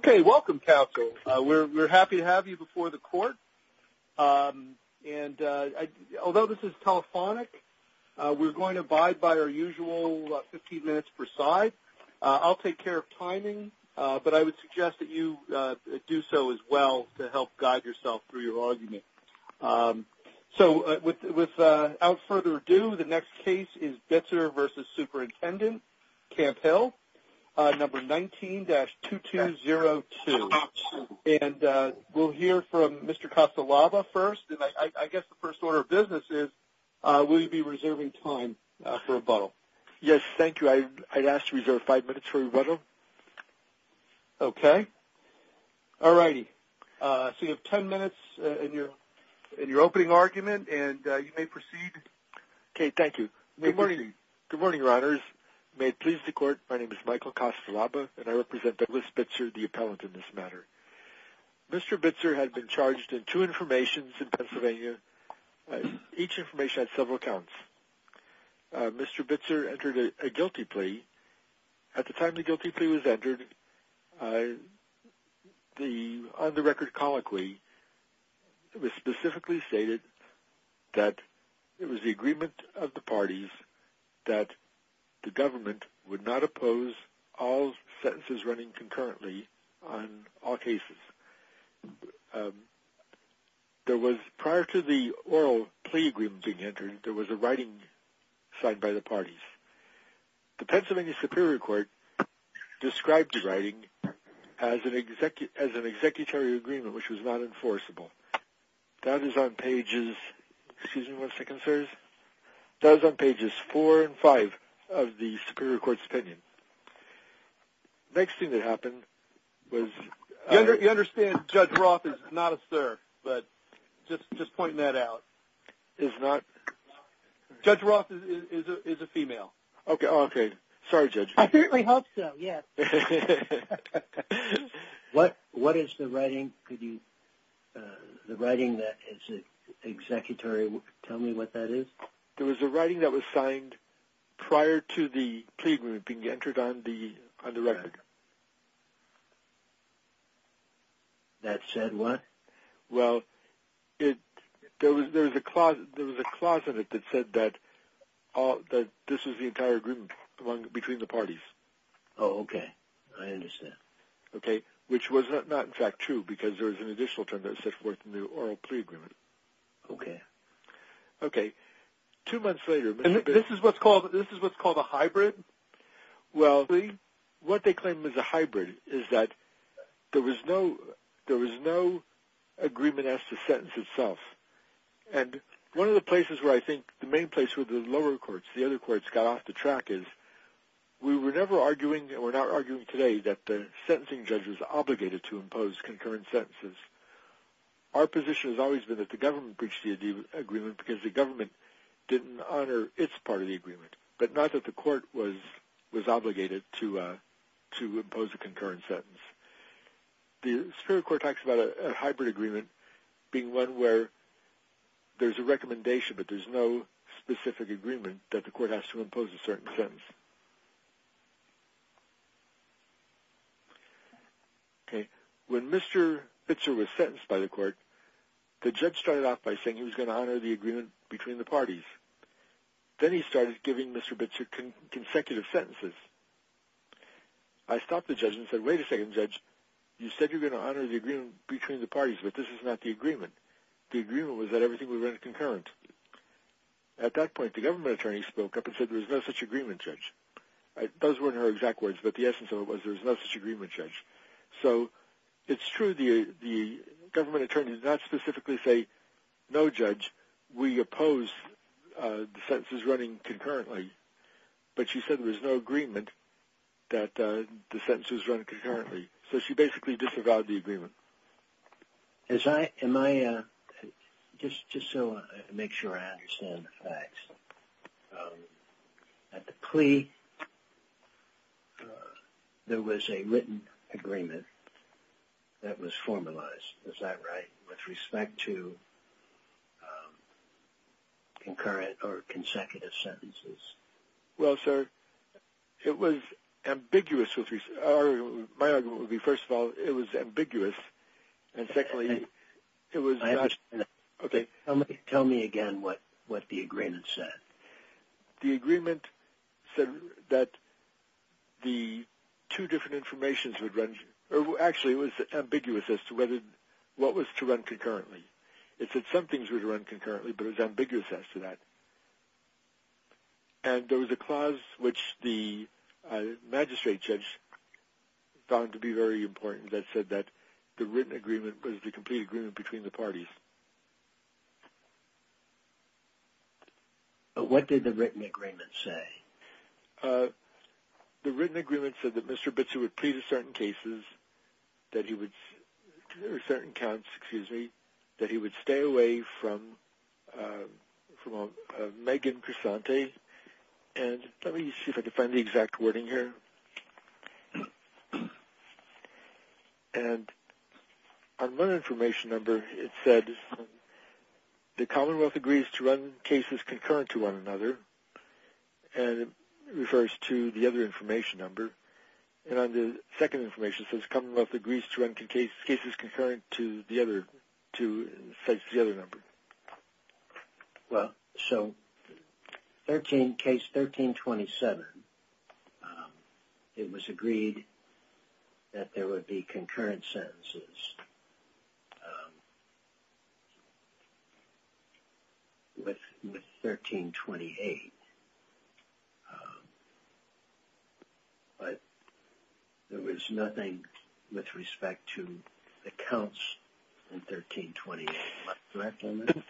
Okay, welcome counsel. We're happy to have you before the court. And although this is telephonic, we're going to abide by our usual 15 minutes per side. I'll take care of timing, but I would suggest that you do so as well to help guide yourself through your argument. So without further ado, the next case is Bezer v. Superintendent Camp Hill, number 19-2202. And we'll hear from Mr. Castellava first. And I guess the first order of business is, will you be reserving time for rebuttal? Yes, thank you. I'd ask to reserve five minutes for rebuttal. Okay. All righty. So you have ten minutes in your opening argument, and you may proceed. Okay, thank you. Good morning, your honors. May it please the court, my name is Michael Castellava, and I represent Douglas Bitzer, the appellant in this matter. Mr. Bitzer had been charged in two informations in Pennsylvania. Each information had several counts. Mr. Bitzer entered a guilty plea. At the time the guilty plea was entered, on the record colloquy, it was specifically stated that it was the agreement of the parties that the government would not oppose all sentences running concurrently on all cases. Prior to the oral plea agreement being entered, there was a writing signed by the parties. The Pennsylvania Superior Court described the writing as an executory agreement which was not enforceable. That is on pages four and five of the Superior Court's opinion. The next thing that happened was... You understand Judge Roth is not a sir, but just pointing that out is not... Judge Roth is a female. Okay. Sorry, Judge. I certainly hope so, yes. What is the writing that is an executory? Tell me what that is. There was a writing that was signed prior to the plea agreement being entered on the record. That said what? Well, there was a clause in it that said that this was the entire agreement between the parties. Oh, okay. I understand. Okay, which was not in fact true because there was an additional term that was set forth in the oral plea agreement. Okay. Okay. Two months later... And this is what's called a hybrid? Well, what they claim is a hybrid is that there was no agreement as to sentence itself. And one of the places where I think the main place where the lower courts, the other courts, got off the track is... We were never arguing, and we're not arguing today, that the sentencing judge was obligated to impose concurrent sentences. Our position has always been that the government breached the agreement because the government didn't honor its part of the agreement, but not that the court was obligated to impose a concurrent sentence. The Superior Court talks about a hybrid agreement being one where there's a recommendation, but there's no specific agreement that the court has to impose a certain sentence. Okay. When Mr. Bitzer was sentenced by the court, the judge started off by saying he was going to honor the agreement between the parties. Then he started giving Mr. Bitzer consecutive sentences. I stopped the judge and said, wait a second, judge. You said you were going to honor the agreement between the parties, but this is not the agreement. The agreement was that everything would run concurrent. At that point, the government attorney spoke up and said there was no such agreement, judge. Those weren't her exact words, but the essence of it was there was no such agreement, judge. It's true the government attorney did not specifically say, no, judge. We oppose the sentences running concurrently, but she said there was no agreement that the sentences run concurrently. She basically disavowed the agreement. Just so I make sure I understand the facts, at the plea, there was a written agreement that was formalized. Is that right, with respect to concurrent or consecutive sentences? Well, sir, it was ambiguous. My argument would be, first of all, it was ambiguous, and secondly, it was not... Tell me again what the agreement said. The agreement said that the two different informations would run... Actually, it was ambiguous as to what was to run concurrently. It said some things would run concurrently, but it was ambiguous as to that. And there was a clause, which the magistrate judge found to be very important, that said that the written agreement was the complete agreement between the parties. What did the written agreement say? The written agreement said that Mr. Bitzu would plea to certain cases, or certain counts, excuse me, that he would stay away from Megan Cresante. And let me see if I can find the exact wording here. And on one information number, it said the Commonwealth agrees to run cases concurrent to one another, and it refers to the other information number. And on the second information, it says the Commonwealth agrees to run cases concurrent to the other number. Well, so case 1327, it was agreed that there would be concurrent sentences. With 1328, but there was nothing with respect to the counts in 1328.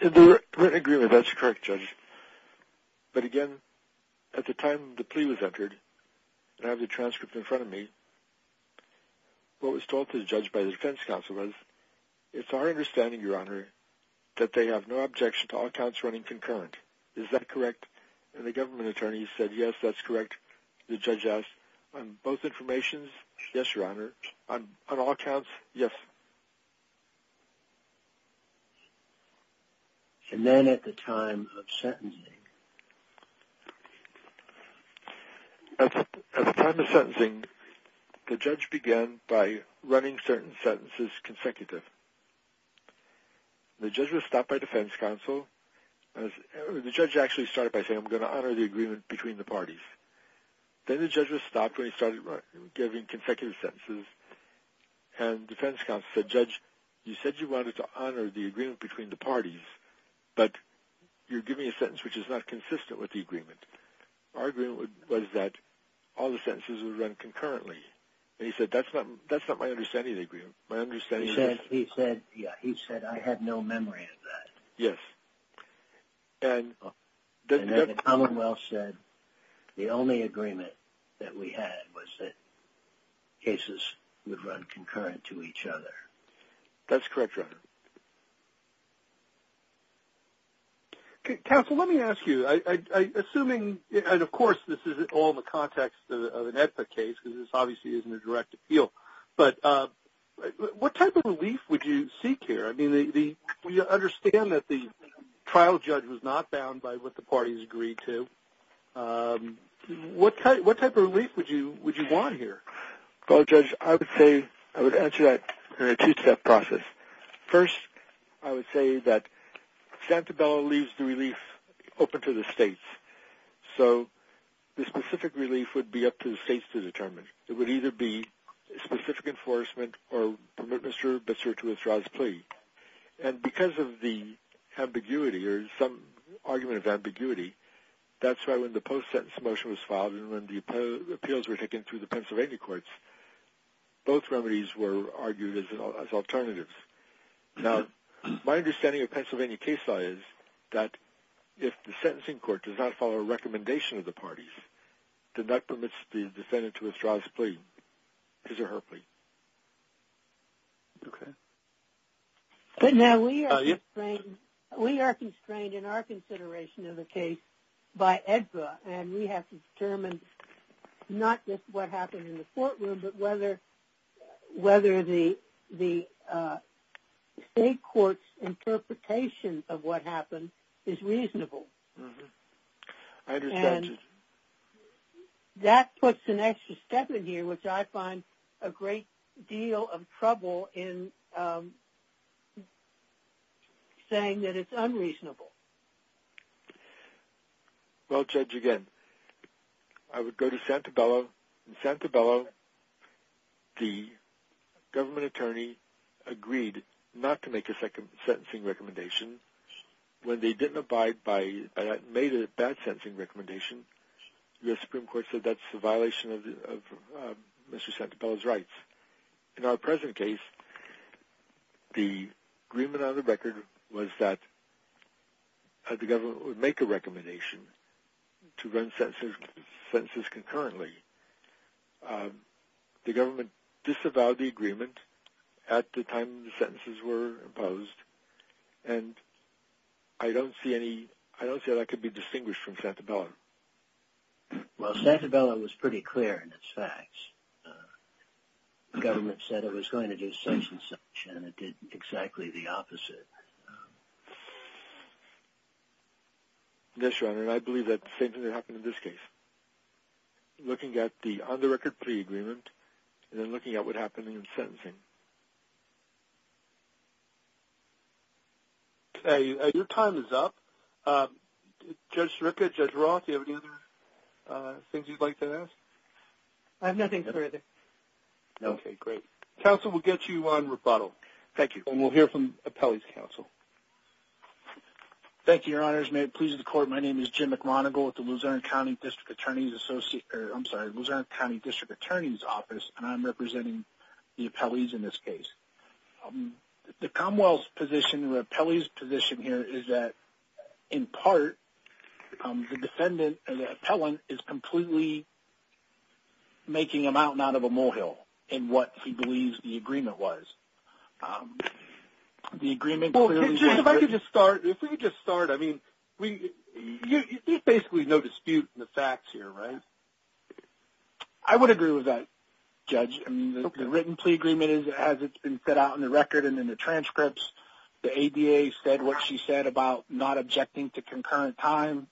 The written agreement, that's correct, Judge. But again, at the time the plea was entered, and I have the transcript in front of me, what was told to the judge by the defense counsel was, it's our understanding, Your Honor, that they have no objection to all counts running concurrent. Is that correct? And the government attorney said, yes, that's correct. The judge asked, on both informations, yes, Your Honor. On all counts, yes. And then at the time of sentencing? At the time of sentencing, the judge began by running certain sentences consecutive. The judge was stopped by defense counsel. The judge actually started by saying, I'm going to honor the agreement between the parties. Then the judge was stopped when he started giving consecutive sentences, and defense counsel said, Judge, you said you wanted to honor the agreement between the parties, but you're giving a sentence which is not consistent with the agreement. Our agreement was that all the sentences would run concurrently. And he said, that's not my understanding of the agreement. He said, I had no memory of that. Yes. And the Commonwealth said the only agreement that we had was that cases would run concurrent to each other. That's correct, Your Honor. Counsel, let me ask you. Assuming, and of course this is all in the context of an EPA case, because this obviously isn't a direct appeal, but what type of relief would you seek here? I mean, we understand that the trial judge was not bound by what the parties agreed to. What type of relief would you want here? Well, Judge, I would say, I would answer that in a two-step process. First, I would say that Santabella leaves the relief open to the states. So the specific relief would be up to the states to determine. It would either be specific enforcement or Mr. Bitzer to withdraw his plea. And because of the ambiguity or some argument of ambiguity, that's why when the post-sentence motion was filed and when the appeals were taken through the Pennsylvania courts, both remedies were argued as alternatives. Now, my understanding of Pennsylvania case law is that if the sentencing court does not follow a recommendation of the parties, then that permits the defendant to withdraw his plea, his or her plea. Okay. Now, we are constrained in our consideration of the case by AEDPA, and we have to determine not just what happened in the courtroom, but whether the state court's interpretation of what happened is reasonable. I understand, Judge. That puts an extra step in here, which I find a great deal of trouble in saying that it's unreasonable. Well, Judge, again, I would go to Santabella. In Santabella, the government attorney agreed not to make a sentencing recommendation. When they didn't abide by that and made a bad sentencing recommendation, the Supreme Court said that's a violation of Mr. Santabella's rights. In our present case, the agreement on the record was that the government would make a recommendation to run sentences concurrently. The government disavowed the agreement at the time the sentences were imposed, and I don't see how that could be distinguished from Santabella. Well, Santabella was pretty clear in its facts. The government said it was going to do such and such, and it did exactly the opposite. Yes, Your Honor, and I believe that the same thing happened in this case. Looking at the on-the-record pre-agreement and then looking at what happened in the sentencing. Okay, your time is up. Judge Sirica, Judge Roth, do you have any other things you'd like to ask? I have nothing further. Okay, great. Counsel, we'll get you on rebuttal. Thank you. And we'll hear from Appellee's Counsel. Thank you, Your Honors. Your Honors, may it please the Court, my name is Jim McRonagall with the Luzerne County District Attorney's Office, and I'm representing the appellees in this case. The Commonwealth's position or the appellee's position here is that, in part, the defendant or the appellant is completely making a mountain out of a molehill in what he believes the agreement was. If I could just start, if we could just start, I mean, there's basically no dispute in the facts here, right? I would agree with that, Judge. The written plea agreement, as it's been set out in the record and in the transcripts, the ADA said what she said about not objecting to concurrent time.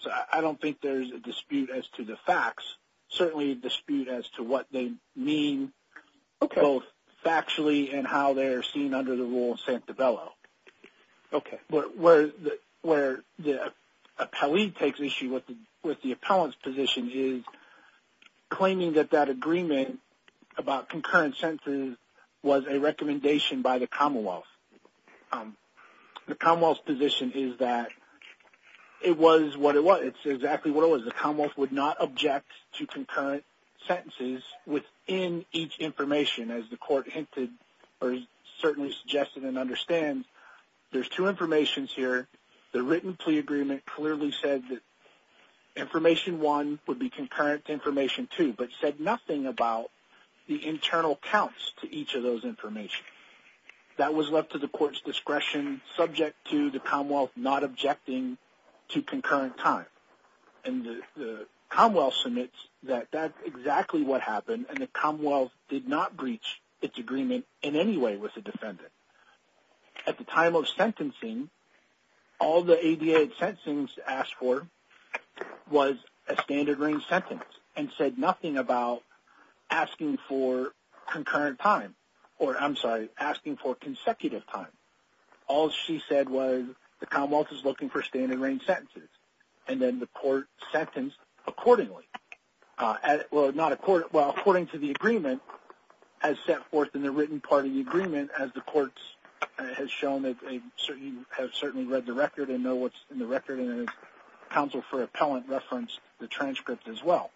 So I don't think there's a dispute as to the facts. There is certainly a dispute as to what they mean both factually and how they're seen under the rule of Santabello. Okay. Where the appellee takes issue with the appellant's position is claiming that that agreement about concurrent census was a recommendation by the Commonwealth. The Commonwealth's position is that it was what it was. It's exactly what it was. The Commonwealth would not object to concurrent sentences within each information, as the court hinted or certainly suggested and understands. There's two informations here. The written plea agreement clearly said that information one would be concurrent to information two, but said nothing about the internal counts to each of those information. That was left to the court's discretion, subject to the Commonwealth not objecting to concurrent time. And the Commonwealth submits that that's exactly what happened, and the Commonwealth did not breach its agreement in any way with the defendant. At the time of sentencing, all the ADA had sentenced to ask for was a standard range sentence and said nothing about asking for concurrent time or, I'm sorry, asking for consecutive time. All she said was the Commonwealth is looking for standard range sentences, and then the court sentenced accordingly. Well, according to the agreement, as set forth in the written part of the agreement, as the court has shown that they have certainly read the record and know what's in the record, and the Council for Appellant referenced the transcript as well.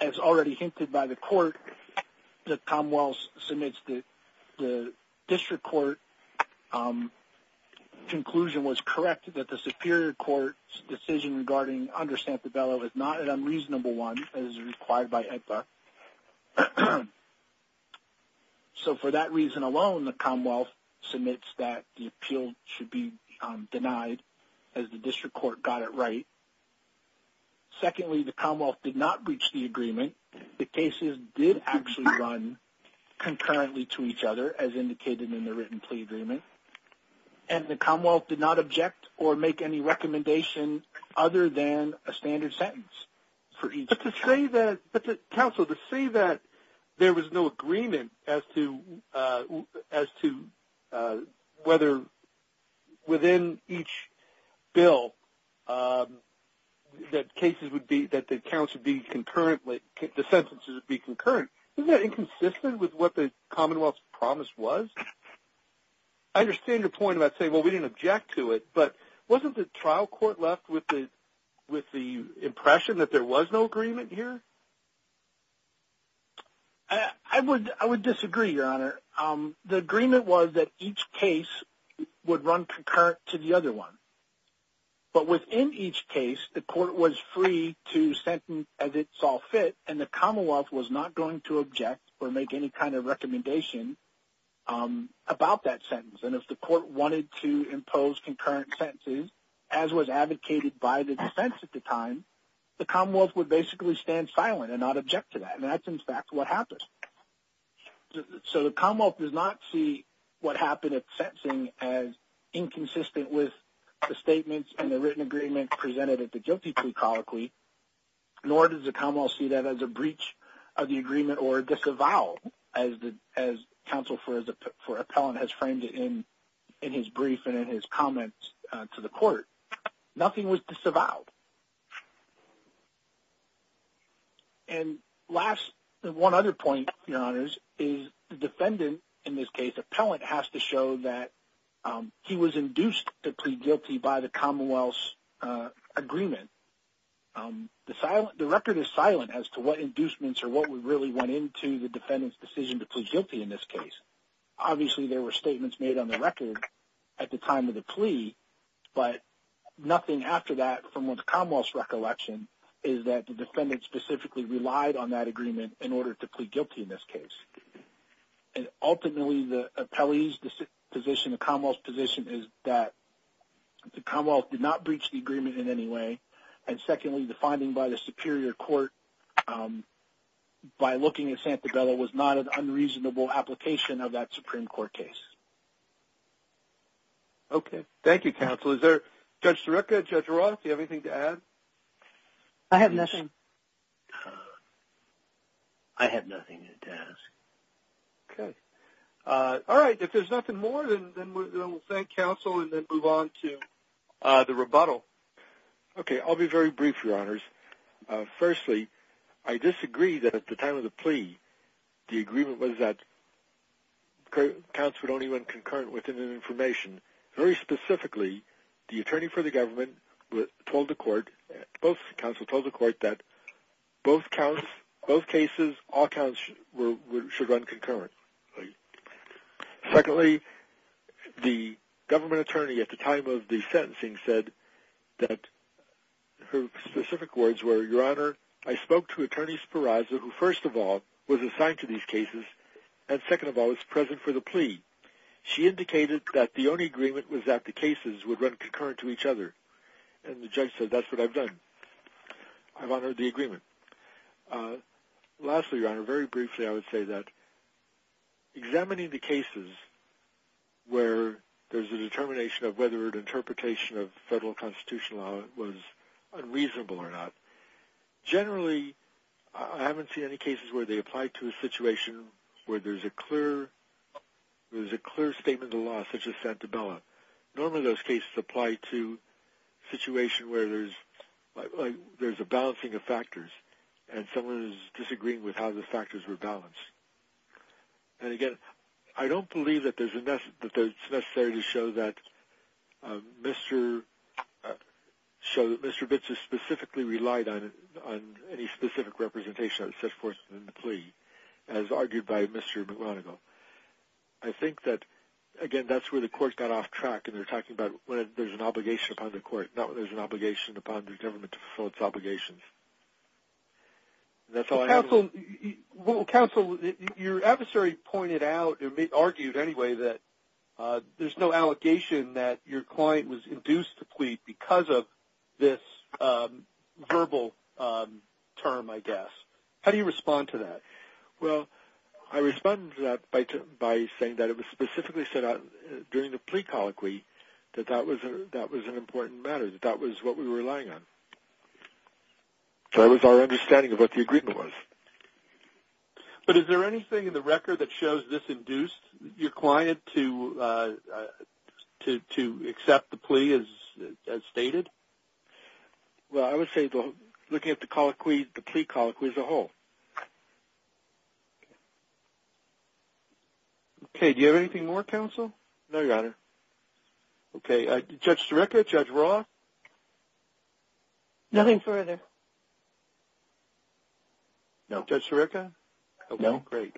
As already hinted by the court, the Commonwealth submits that the district court conclusion was correct that the Superior Court's decision regarding under Santabella was not an unreasonable one as required by HEDPA. So for that reason alone, the Commonwealth submits that the appeal should be denied as the district court got it right. Secondly, the Commonwealth did not breach the agreement. The cases did actually run concurrently to each other, as indicated in the written plea agreement, and the Commonwealth did not object or make any recommendation other than a standard sentence for each case. But, Counsel, to say that there was no agreement as to whether within each bill that the sentences would be concurrent, isn't that inconsistent with what the Commonwealth's promise was? I understand your point about saying, well, we didn't object to it, but wasn't the trial court left with the impression that there was no agreement here? I would disagree, Your Honor. The agreement was that each case would run concurrent to the other one. But within each case, the court was free to sentence as it saw fit, and the Commonwealth was not going to object or make any kind of recommendation about that sentence. And if the court wanted to impose concurrent sentences, as was advocated by the defense at the time, the Commonwealth would basically stand silent and not object to that. And that's, in fact, what happened. So the Commonwealth does not see what happened at sentencing as inconsistent with the statements and the written agreement presented at the guilty plea colloquy, nor does the Commonwealth see that as a breach of the agreement or a disavowal, as Counsel for Appellant has framed it in his brief and in his comments to the court. Nothing was disavowed. And last, one other point, Your Honors, is the defendant in this case, Appellant, has to show that he was induced to plead guilty by the Commonwealth's agreement. The record is silent as to what inducements or what really went into the defendant's decision to plead guilty in this case. Obviously, there were statements made on the record at the time of the plea, but nothing after that from the Commonwealth's recollection is that the defendant specifically relied on that agreement in order to plead guilty in this case. And ultimately, the appellee's position, the Commonwealth's position, is that the Commonwealth did not breach the agreement in any way, and secondly, the finding by the Superior Court, by looking at Santabella, was not an unreasonable application of that Supreme Court case. Okay. Thank you, Counsel. Is there, Judge Sirica, Judge Roth, do you have anything to add? I have nothing. I have nothing to add. Okay. All right. If there's nothing more, then we'll thank Counsel and then move on to the rebuttal. Okay. I'll be very brief, Your Honors. Firstly, I disagree that at the time of the plea, the agreement was that counts would only run concurrent within an information. Very specifically, the attorney for the government told the court, both counsel told the court that both counts, both cases, all counts should run concurrently. Secondly, the government attorney at the time of the sentencing said that her specific words were, Your Honor, I spoke to Attorney Spiroza, who, first of all, was assigned to these cases, and second of all, was present for the plea. She indicated that the only agreement was that the cases would run concurrent to each other. And the judge said, that's what I've done. I've honored the agreement. Lastly, Your Honor, very briefly, I would say that examining the cases where there's a determination of whether or an interpretation of federal constitutional law was unreasonable or not, generally, I haven't seen any cases where they apply to a situation where there's a clear statement of the law, such as Santabella. Normally, those cases apply to a situation where there's a balancing of factors, and someone is disagreeing with how the factors were balanced. And again, I don't believe that it's necessary to show that Mr. Bits has specifically relied on any specific representation set forth in the plea, as argued by Mr. McGonigal. I think that, again, that's where the court got off track, and they're talking about when there's an obligation upon the court, not when there's an obligation upon the government to fulfill its obligations. That's all I have. Counsel, your adversary pointed out, or argued anyway, that there's no allegation that your client was induced to plead because of this verbal term, I guess. How do you respond to that? Well, I respond to that by saying that it was specifically set out during the plea colloquy that that was an important matter, that that was what we were relying on. That was our understanding of what the agreement was. But is there anything in the record that shows this induced your client to accept the plea as stated? Well, I would say looking at the plea colloquy as a whole. Okay, do you have anything more, Counsel? No, Your Honor. Okay, Judge Sirica, Judge Roth? Nothing further. No. Judge Sirica? No. Great.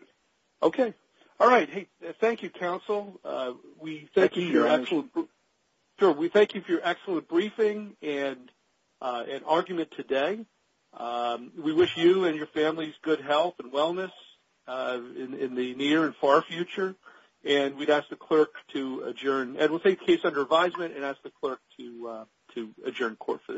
Okay. All right. Thank you, Counsel. We thank you for your excellent briefing and argument today. We wish you and your families good health and wellness in the near and far future. And we'd ask the clerk to adjourn. And we'll take the case under advisement and ask the clerk to adjourn court for the day.